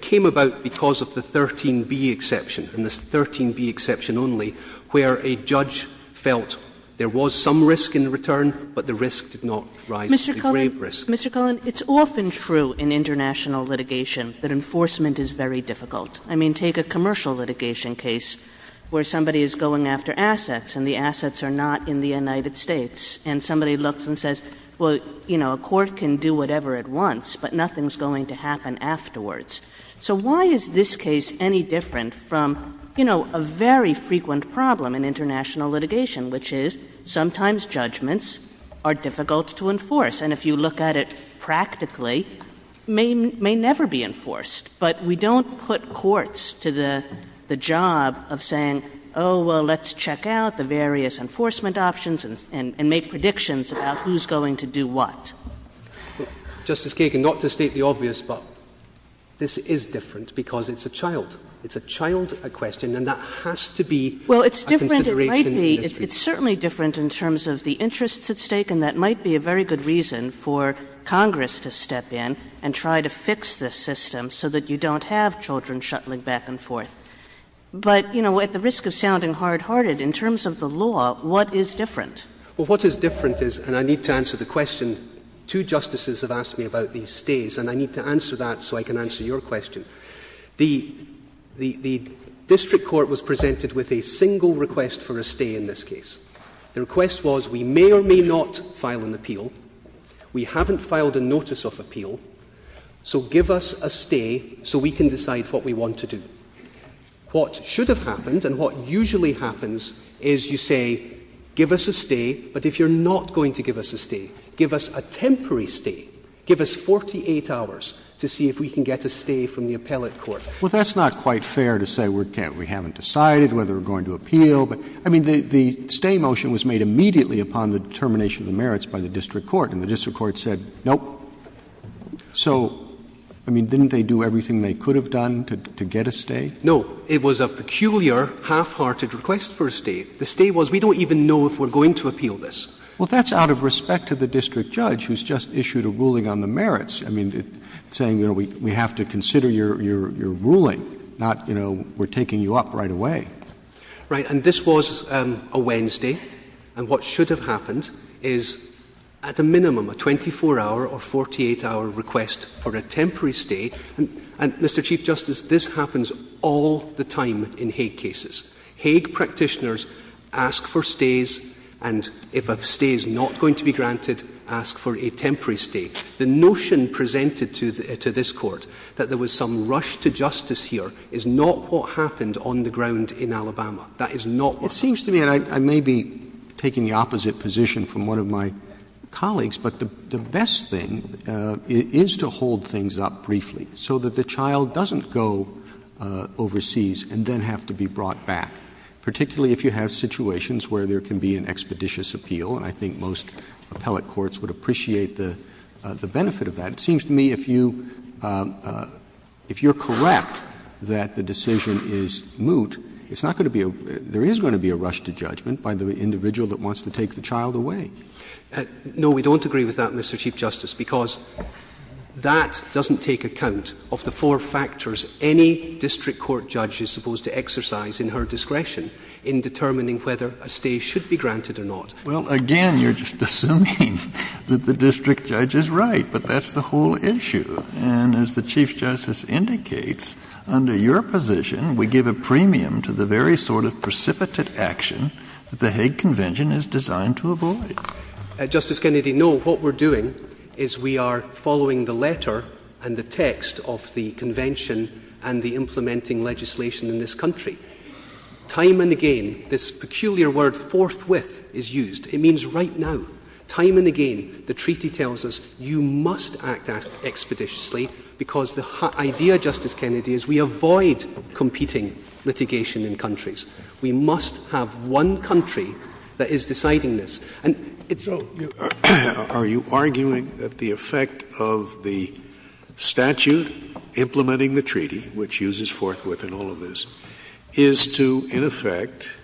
came about because of the 13b exception, and the 13b exception only, where a judge felt there was some risk in the return, but the risk did not rise to the grave risk. Mr. Cullen, it's often true in international litigation that enforcement is very difficult. I mean, take a commercial litigation case where somebody is going after assets, and the assets are not in the United States. And somebody looks and says, well, you know, a court can do whatever it wants, but nothing's going to happen afterwards. So why is this case any different from, you know, a very frequent problem in international litigation, which is sometimes judgments are difficult to enforce. And if you look at it practically, may never be enforced. But we don't put courts to the job of saying, oh, well, let's check out the various enforcement options and make predictions about who's going to do what. Justice Kagan, not to state the obvious, but this is different because it's a child. It's a child, a question, and that has to be a consideration in this case. Well, it's different. It might be. It's certainly different in terms of the interests at stake, and that might be a very good reason for Congress to step in and try to fix this system so that you don't have children shuttling back and forth. But, you know, at the risk of sounding hard-hearted, in terms of the law, what is different? Well, what is different is, and I need to answer the question, two justices have asked me about these stays, and I need to answer that so I can answer your question. The district court was presented with a single request for a stay in this case. The request was, we may or may not file an appeal. We haven't filed a notice of appeal, so give us a stay so we can decide what we want to do. What should have happened and what usually happens is you say, give us a stay, but if you're not going to give us a stay, give us a temporary stay. Give us 48 hours to see if we can get a stay from the appellate court. Well, that's not quite fair to say we haven't decided whether we're going to appeal. I mean, the stay motion was made immediately upon the determination of merits by the district court, and the district court said, nope. So I mean, didn't they do everything they could have done to get a stay? No. It was a peculiar, half-hearted request for a stay. The stay was, we don't even know if we're going to appeal this. Well, that's out of respect to the district judge, who's just issued a ruling on the merits, I mean, saying, you know, we have to consider your ruling, not, you know, we're taking you up right away. Right, and this was a Wednesday, and what should have happened is, at a minimum, a 24-hour or 48-hour request for a temporary stay, and Mr Chief Justice, this happens all the time in Hague cases. Hague practitioners ask for stays, and if a stay is not going to be granted, ask for a temporary stay. The notion presented to this court, that there was some rush to justice here, is not what we want to see in Alabama. That is not what we want to see. Roberts. It seems to me, and I may be taking the opposite position from one of my colleagues, but the best thing is to hold things up briefly so that the child doesn't go overseas and then have to be brought back, particularly if you have situations where there can be an expeditious appeal, and I think most appellate courts would appreciate the benefit of that. But it seems to me if you, if you're correct that the decision is moot, it's not going to be a, there is going to be a rush to judgment by the individual that wants to take the child away. No, we don't agree with that, Mr. Chief Justice, because that doesn't take account of the four factors any district court judge is supposed to exercise in her discretion in determining whether a stay should be granted or not. Well, again, you're just assuming that the district judge is right, but that's the whole issue. And as the Chief Justice indicates, under your position, we give a premium to the very sort of precipitate action that the Hague Convention is designed to avoid. Justice Kennedy, no, what we're doing is we are following the letter and the text of the convention and the implementing legislation in this country. Time and again, this peculiar word forthwith is used. It means right now. Time and again, the treaty tells us you must act expeditiously because the idea, Justice Kennedy, is we avoid competing litigation in countries. We must have one country that is deciding this. And it's— So are you arguing that the effect of the statute implementing the treaty, which uses forthwith in all of this, is to, in effect,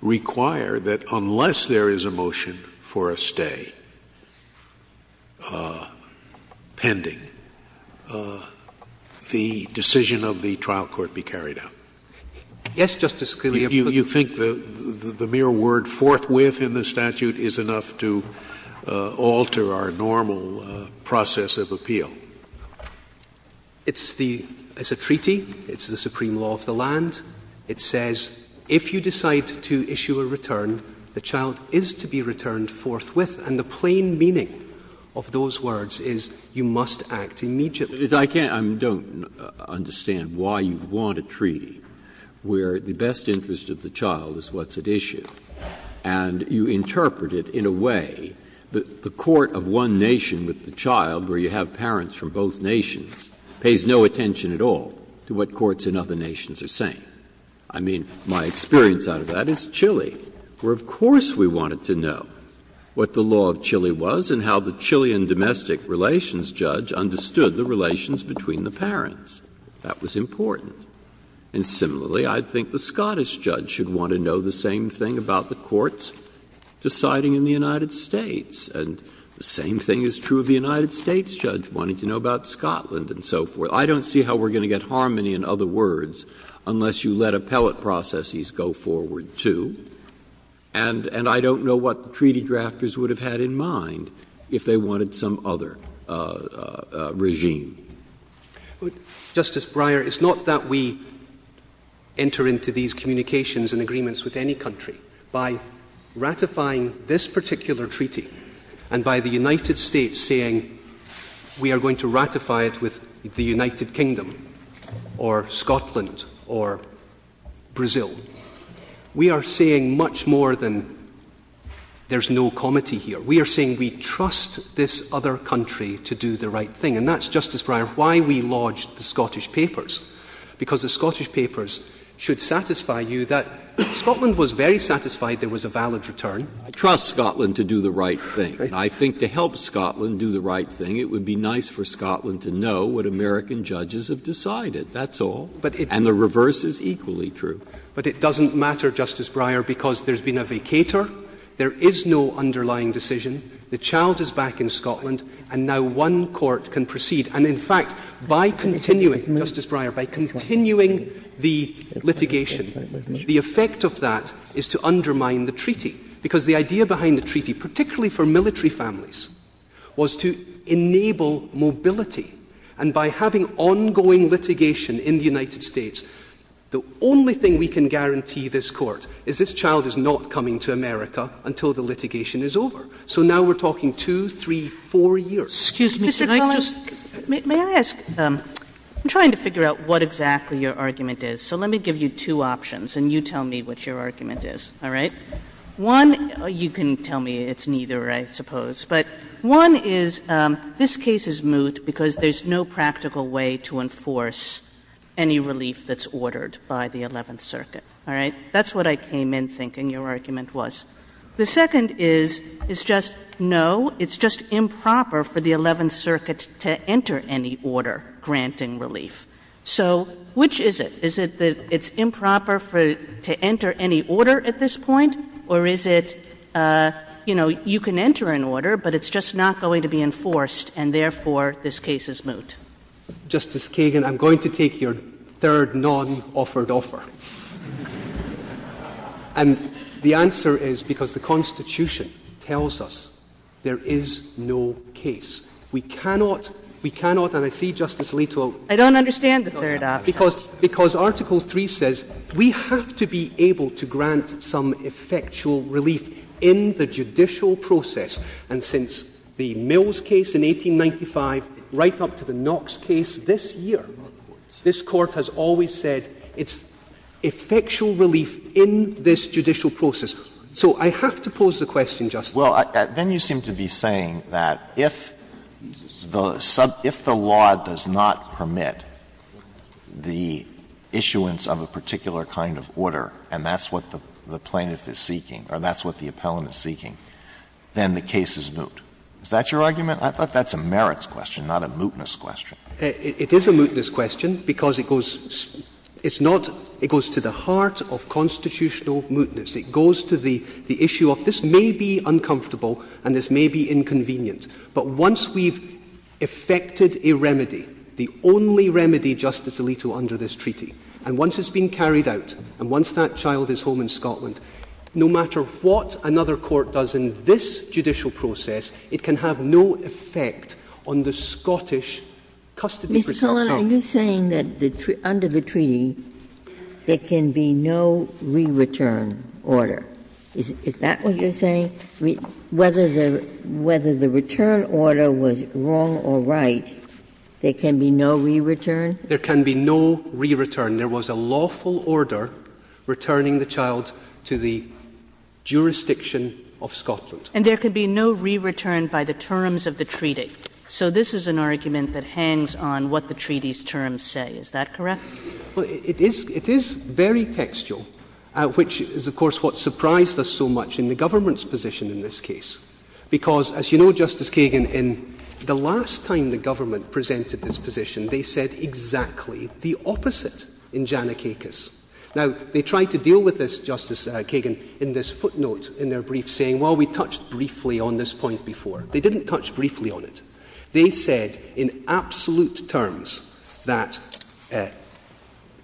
require that unless there is a motion for a stay pending, the decision of the trial court be carried out? Yes, Justice Scalia, but— You think the mere word forthwith in the statute is enough to alter our normal process of appeal? It's the — it's a treaty, it's the supreme law of the land, it says if you decide to issue a return, the child is to be returned forthwith, and the plain meaning of those words is you must act immediately. But I can't — I don't understand why you want a treaty where the best interest of the child is what's at issue, and you interpret it in a way that the court of one nation with the child, where you have parents from both nations, pays no attention at all to what courts in other nations are saying. I mean, my experience out of that is Chile, where of course we wanted to know what the law of Chile was and how the Chilean domestic relations judge understood the relations between the parents. That was important. And similarly, I think the Scottish judge should want to know the same thing about the courts deciding in the United States. And the same thing is true of the United States judge wanting to know about Scotland and so forth. I don't see how we're going to get harmony in other words unless you let appellate processes go forward, too. And I don't know what the treaty drafters would have had in mind if they wanted some other regime. Justice Breyer, it's not that we enter into these communications and agreements with any country by ratifying this particular treaty and by the United States saying we are going to ratify it with the United Kingdom or Scotland or Brazil. We are saying much more than there's no comedy here. We are saying we trust this other country to do the right thing. And that's, Justice Breyer, why we lodged the Scottish papers. Because the Scottish papers should satisfy you that Scotland was very satisfied there was a valid return. I trust Scotland to do the right thing. And I think to help Scotland do the right thing, it would be nice for Scotland to know what American judges have decided. That's all. And the reverse is equally true. But it doesn't matter, Justice Breyer, because there's been a vacator. There is no underlying decision. The child is back in Scotland. And now one court can proceed. And in fact, by continuing, Justice Breyer, by continuing the litigation, the effect of that is to undermine the treaty. Because the idea behind the treaty, particularly for military families, was to enable mobility. And by having ongoing litigation in the United States, the only thing we can guarantee this court is this child is not coming to America until the litigation is over. So now we're talking two, three, four years. Sotomayor, excuse me, can I just ask? Kagan, may I ask? I'm trying to figure out what exactly your argument is. So let me give you two options, and you tell me what your argument is, all right? One, you can tell me it's neither, I suppose. But one is this case is moot because there's no practical way to enforce any relief that's ordered by the Eleventh Circuit, all right? That's what I came in thinking your argument was. The second is, it's just no, it's just improper for the Eleventh Circuit to enter any order granting relief. So which is it? Is it that it's improper to enter any order at this point? Or is it you can enter an order, but it's just not going to be enforced, and therefore this case is moot? Justice Kagan, I'm going to take your third non-offered offer. And the answer is, because the Constitution tells us there is no case. We cannot, we cannot, and I see Justice Alito. I don't understand the third option. Because Article 3 says we have to be able to grant some effectual relief in the judicial process. And since the Mills case in 1895, right up to the Knox case this year, this Court has always said it's effectual relief in this judicial process. So I have to pose the question, Justice. Alito, then you seem to be saying that if the law does not permit the issuance of a particular kind of order, and that's what the plaintiff is seeking, or that's what the appellant is seeking, then the case is moot. Is that your argument? I thought that's a merits question, not a mootness question. It is a mootness question, because it goes to the heart of constitutional mootness. It goes to the issue of this may be uncomfortable, and this may be inconvenient. But once we've effected a remedy, the only remedy, Justice Alito, under this treaty, and once it's been carried out, and once that child is home in Scotland, no matter what another court does in this judicial process, it can have no effect on the Scottish custody of a child. Mr. Cohen, are you saying that under the treaty, there can be no re-return order? Is that what you're saying? Whether the return order was wrong or right, there can be no re-return? There can be no re-return. There was a lawful order returning the child to the jurisdiction of Scotland. And there can be no re-return by the terms of the treaty. So this is an argument that hangs on what the treaty's terms say. Is that correct? Well, it is very textual, which is, of course, what surprised us so much in the government's position in this case. Because, as you know, Justice Kagan, in the last time the government presented this position, they said exactly the opposite in Janakakis. Now, they tried to deal with this, Justice Kagan, in this footnote in their brief, saying, well, we touched briefly on this point before. They didn't touch briefly on it. They said, in absolute terms, that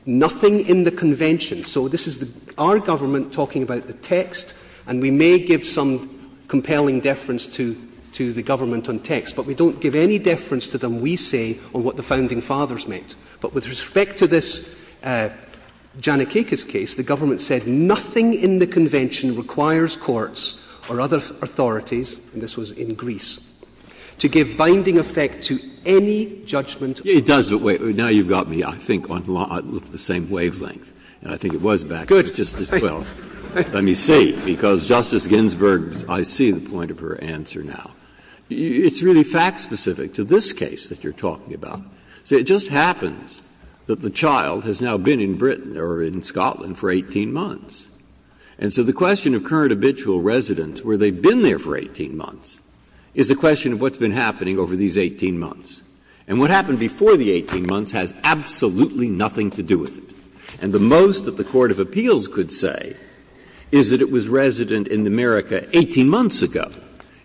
nothing in the Convention— so this is our government talking about the text, and we may give some compelling deference to the government on text, but we don't give any deference to them, we say, on what the Founding Fathers meant. But with respect to this Janakakis case, the government said, nothing in the Convention requires courts or other authorities, and this was in Greece, to give binding effect to any judgment. Breyer. It does, but wait. Now you've got me, I think, on the same wavelength, and I think it was back in 2012. Let me see, because, Justice Ginsburg, I see the point of her answer now. It's really fact-specific to this case that you're talking about. So it just happens that the child has now been in Britain, or in Scotland, for 18 months. And so the question of current habitual residence, where they've been there for 18 months, is a question of what's been happening over these 18 months. And what happened before the 18 months has absolutely nothing to do with it. And the most that the court of appeals could say is that it was resident in America 18 months ago.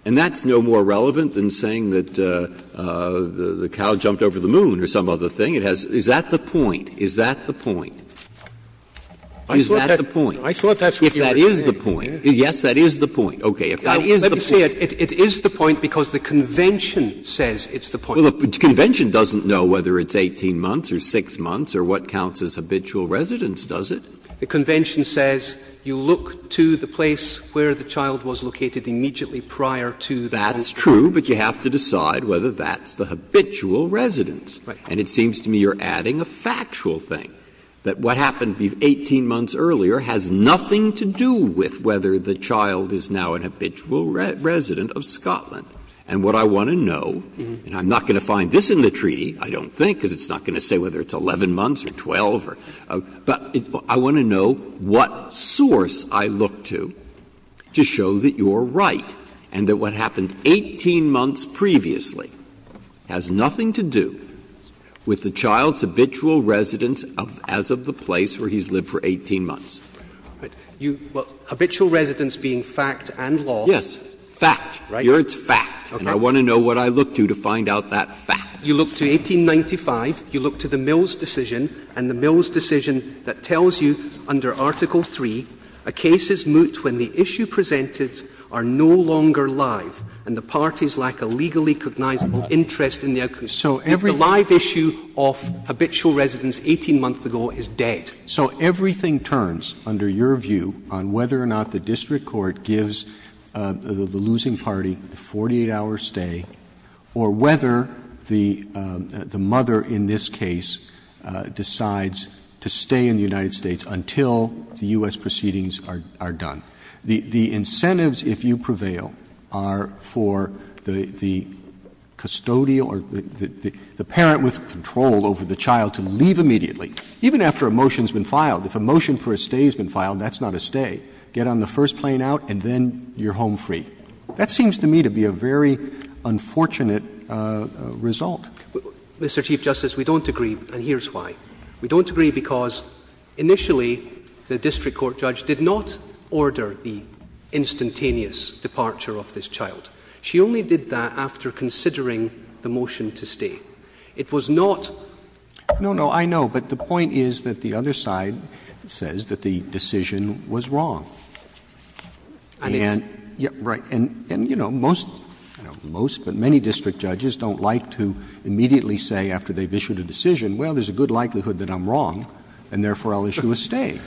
And that's no more relevant than saying that the cow jumped over the moon or some other thing. It has to do with, is that the point? Is that the point? Is that the point? If that is the point, yes, that is the point. Okay. If that is the point. Roberts. It is the point because the Convention says it's the point. Well, the Convention doesn't know whether it's 18 months or 6 months or what counts as habitual residence, does it? The Convention says you look to the place where the child was located immediately prior to that. That is true, but you have to decide whether that's the habitual residence. And it seems to me you're adding a factual thing, that what happened 18 months earlier has nothing to do with whether the child is now an habitual resident of Scotland. And what I want to know, and I'm not going to find this in the treaty, I don't think, because it's not going to say whether it's 11 months or 12, but I want to know what source I look to to show that you're right and that what happened 18 months previously has nothing to do with the child's habitual residence as of the place where he's lived for 18 months. You look to 1895, you look to the Mills decision, and the Mills decision that tells me that the case is moot when the issue presented are no longer live and the parties lack a legally cognizable interest in their case. The live issue of habitual residence 18 months ago is dead. Roberts, so everything turns, under your view, on whether or not the district court gives the losing party a 48-hour stay or whether the mother in this case decides to stay in the United States until the U.S. proceedings are done. The incentives, if you prevail, are for the custodial or the parent with control over the child to leave immediately, even after a motion has been filed. If a motion for a stay has been filed, that's not a stay. Get on the first plane out and then you're home free. That seems to me to be a very unfortunate result. Mr. Chief Justice, we don't agree, and here's why. We don't agree because initially the district court judge did not order the instantaneous departure of this child. She only did that after considering the motion to stay. It was not— No, no. I know. But the point is that the other side says that the decision was wrong. And— I mean— Right. And, you know, most, I don't know most, but many district judges don't like to immediately say after they've issued a decision, well, there's a good likelihood that I'm wrong, and therefore I'll issue a stay.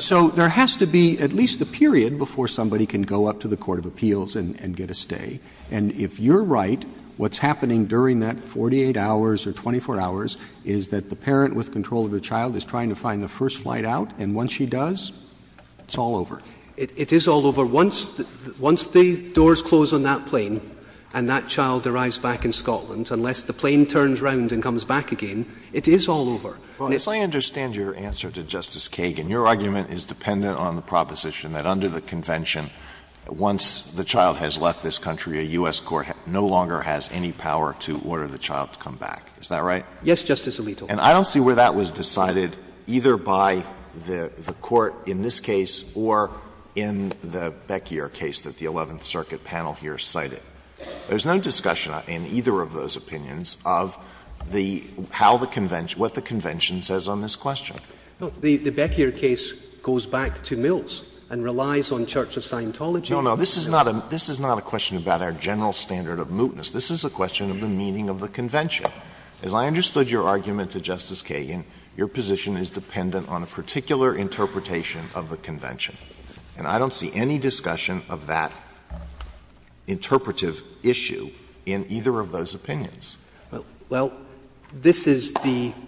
So there has to be at least a period before somebody can go up to the court of appeals and get a stay. And if you're right, what's happening during that 48 hours or 24 hours is that the parent with control of the child is trying to find the first flight out, and once she does, it's all over. It is all over. Once the doors close on that plane and that child arrives back in Scotland, unless the plane turns around and comes back again, it is all over. Well, I understand your answer to Justice Kagan. Your argument is dependent on the proposition that under the Convention, once the child has left this country, a U.S. court no longer has any power to order the child to come back. Is that right? Yes, Justice Alito. And I don't see where that was decided either by the court in this case or in the Beckyer case that the Eleventh Circuit panel here cited. There's no discussion in either of those opinions of the how the Convention – what the Convention says on this question. The Beckyer case goes back to Mills and relies on Church of Scientology. No, no, this is not a question about our general standard of mootness. This is a question of the meaning of the Convention. As I understood your argument to Justice Kagan, your position is dependent on a particular interpretation of the Convention. And I don't see any discussion of that interpretive issue in either of those opinions. Well, this is the –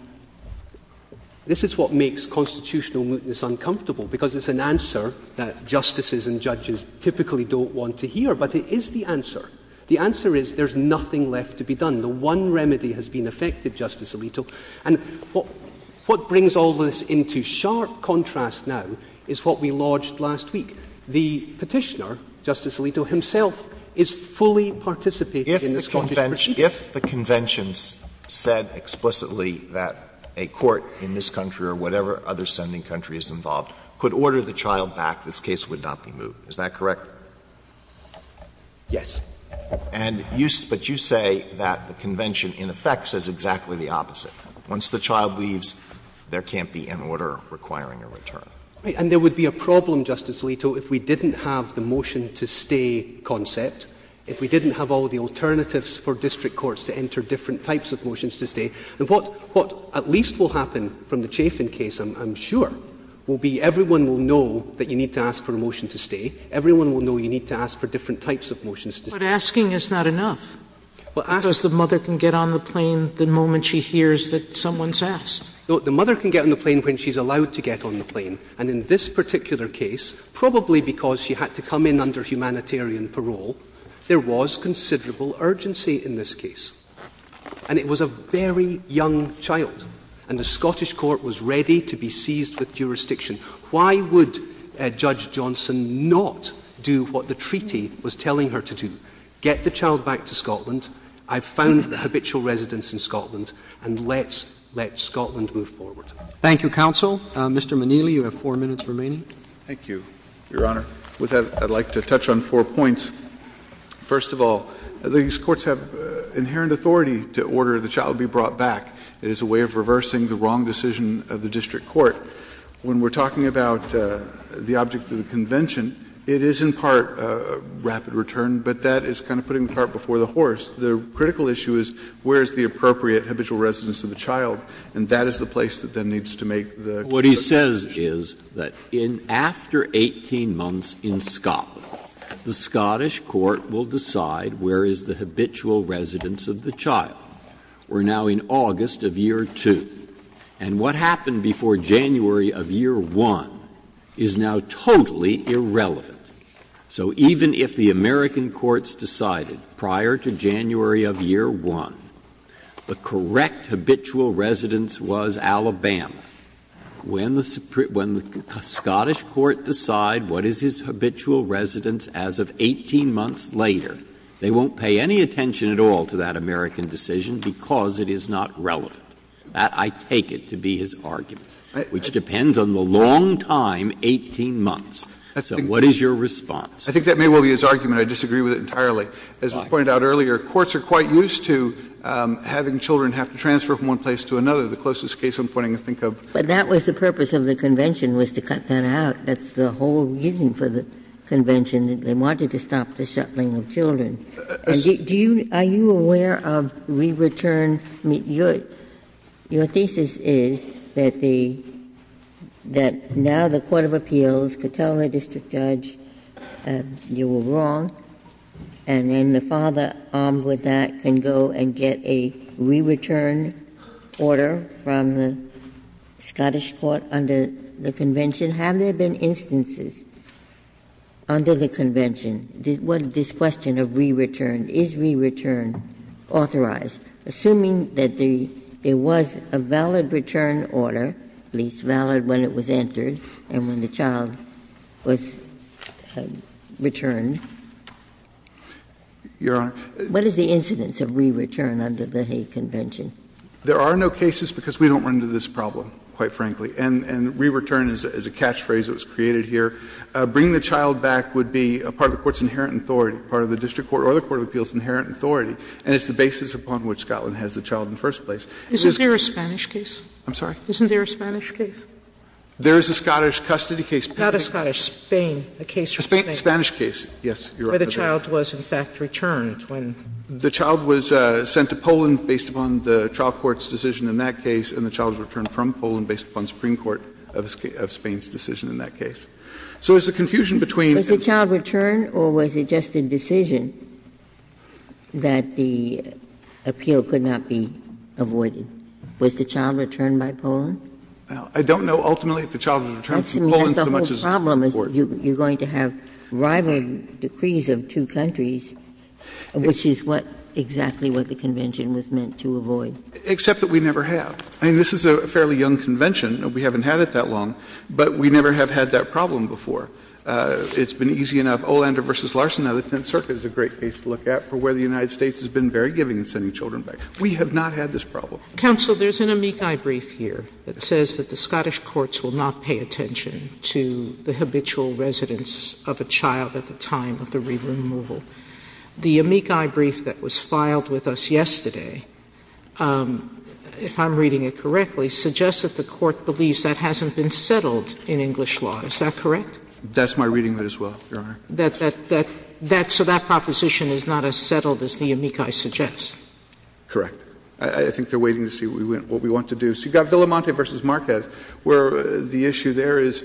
this is what makes constitutional mootness uncomfortable, because it's an answer that justices and judges typically don't want to hear. But it is the answer. The answer is there's nothing left to be done. The one remedy has been effected, Justice Alito. And what brings all this into sharp contrast now is what we lodged last week. The Petitioner, Justice Alito, himself, is fully participating in the Scottish Petition. If the Convention said explicitly that a court in this country or whatever other sending country is involved could order the child back, this case would not be moot. Is that correct? Yes. And you – but you say that the Convention, in effect, says exactly the opposite. Once the child leaves, there can't be an order requiring a return. Right. And there would be a problem, Justice Alito, if we didn't have the motion to stay concept, if we didn't have all the alternatives for district courts to enter different types of motions to stay. And what at least will happen from the Chafin case, I'm sure, will be everyone will know that you need to ask for a motion to stay, everyone will know you need to ask for different types of motions to stay. But asking is not enough, because the mother can get on the plane the moment she hears that someone's asked. No, the mother can get on the plane when she's allowed to get on the plane. And in this particular case, probably because she had to come in under humanitarian parole, there was considerable urgency in this case. And it was a very young child, and the Scottish court was ready to be seized with jurisdiction. Why would Judge Johnson not do what the treaty was telling her to do? Get the child back to Scotland. I've found the habitual residence in Scotland, and let's let Scotland move forward. Thank you, counsel. Mr. Moneli, you have four minutes remaining. Thank you, Your Honor. With that, I'd like to touch on four points. First of all, these courts have inherent authority to order the child be brought back. It is a way of reversing the wrong decision of the district court. When we're talking about the object of the convention, it is in part rapid return, but that is kind of putting the cart before the horse. The critical issue is where is the appropriate habitual residence of the child, and that is the place that then needs to make the decision. What he says is that in — after 18 months in Scotland, the Scottish court will decide where is the habitual residence of the child. We're now in August of Year 2. And what happened before January of Year 1 is now totally irrelevant. So even if the American courts decided prior to January of Year 1 the correct habitual residence was Alabama, when the Scottish court decide what is his habitual residence as of 18 months later, they won't pay any attention at all to that American decision because it is not relevant. That, I take it, to be his argument, which depends on the long time, 18 months. So what is your response? I think that may well be his argument. I disagree with it entirely. As was pointed out earlier, courts are quite used to having children have to transfer from one place to another. The closest case I'm pointing to, I think, of— But that was the purpose of the convention, was to cut that out. That's the whole reason for the convention, that they wanted to stop the shuttling of children. And do you — are you aware of re-return — I mean, your thesis is that the — that now the court of appeals could tell a district judge, you were wrong, and then the father, armed with that, can go and get a re-return order from the Scottish court under the convention? Have there been instances under the convention? Was this question of re-return, is re-return authorized, assuming that there was a valid return order, at least valid when it was entered and when the child was returned? What is the incidence of re-return under the Hague Convention? There are no cases because we don't run into this problem, quite frankly. And re-return is a catchphrase that was created here. Bringing the child back would be part of the court's inherent authority, part of the district court or the court of appeals' inherent authority, and it's the basis upon which Scotland has the child in the first place. Sotomayor Isn't there a Spanish case? I'm sorry? Isn't there a Spanish case? There is a Scottish custody case. Not a Scottish, Spain, a case from Spain. A Spanish case, yes. Where the child was, in fact, returned when. The child was sent to Poland based upon the trial court's decision in that case, and the child was returned from Poland based upon the Supreme Court of Spain's decision in that case. So it's a confusion between. Ginsburg Was the child returned or was it just a decision that the appeal could not be avoided? Was the child returned by Poland? I don't know, ultimately, if the child was returned from Poland so much as the court. Ginsburg That's the whole problem, is you're going to have rival decrees of two countries, which is what exactly what the convention was meant to avoid. Except that we never have. I mean, this is a fairly young convention and we haven't had it that long, but we never have had that problem before. It's been easy enough, Olander v. Larson. Now, the Tenth Circuit is a great case to look at for where the United States has been very giving in sending children back. We have not had this problem. Sotomayor Counsel, there's an amici brief here that says that the Scottish courts will not pay attention to the habitual residence of a child at the time of the re-removal. The amici brief that was filed with us yesterday, if I'm reading it correctly, suggests that the Court believes that hasn't been settled in English law. Is that correct? Verrilli, That's my reading of it as well, Your Honor. Sotomayor That's so that proposition is not as settled as the amici suggests. Verrilli, Correct. I think they're waiting to see what we want to do. So you've got Villamonte v. Marquez, where the issue there is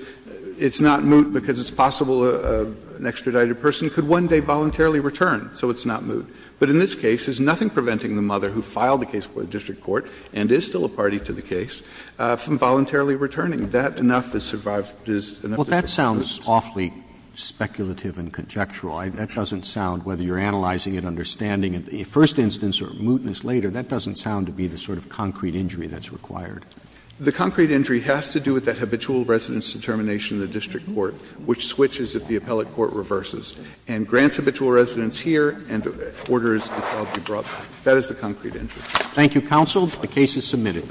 it's not moot because it's possible an extradited person could one day voluntarily return, so it's not moot. But in this case, there's nothing preventing the mother who filed the case for the district court and is still a party to the case from voluntarily returning. That enough to survive is enough to survive. Roberts Well, that sounds awfully speculative and conjectural. That doesn't sound, whether you're analyzing it, understanding it, a first instance or mootness later, that doesn't sound to be the sort of concrete injury that's required. Verrilli, The concrete injury has to do with that habitual residence determination in the district court, which switches if the appellate court reverses, and grants habitual residence here and orders the child to be brought back. That is the concrete injury. Thank you, counsel. The case is submitted.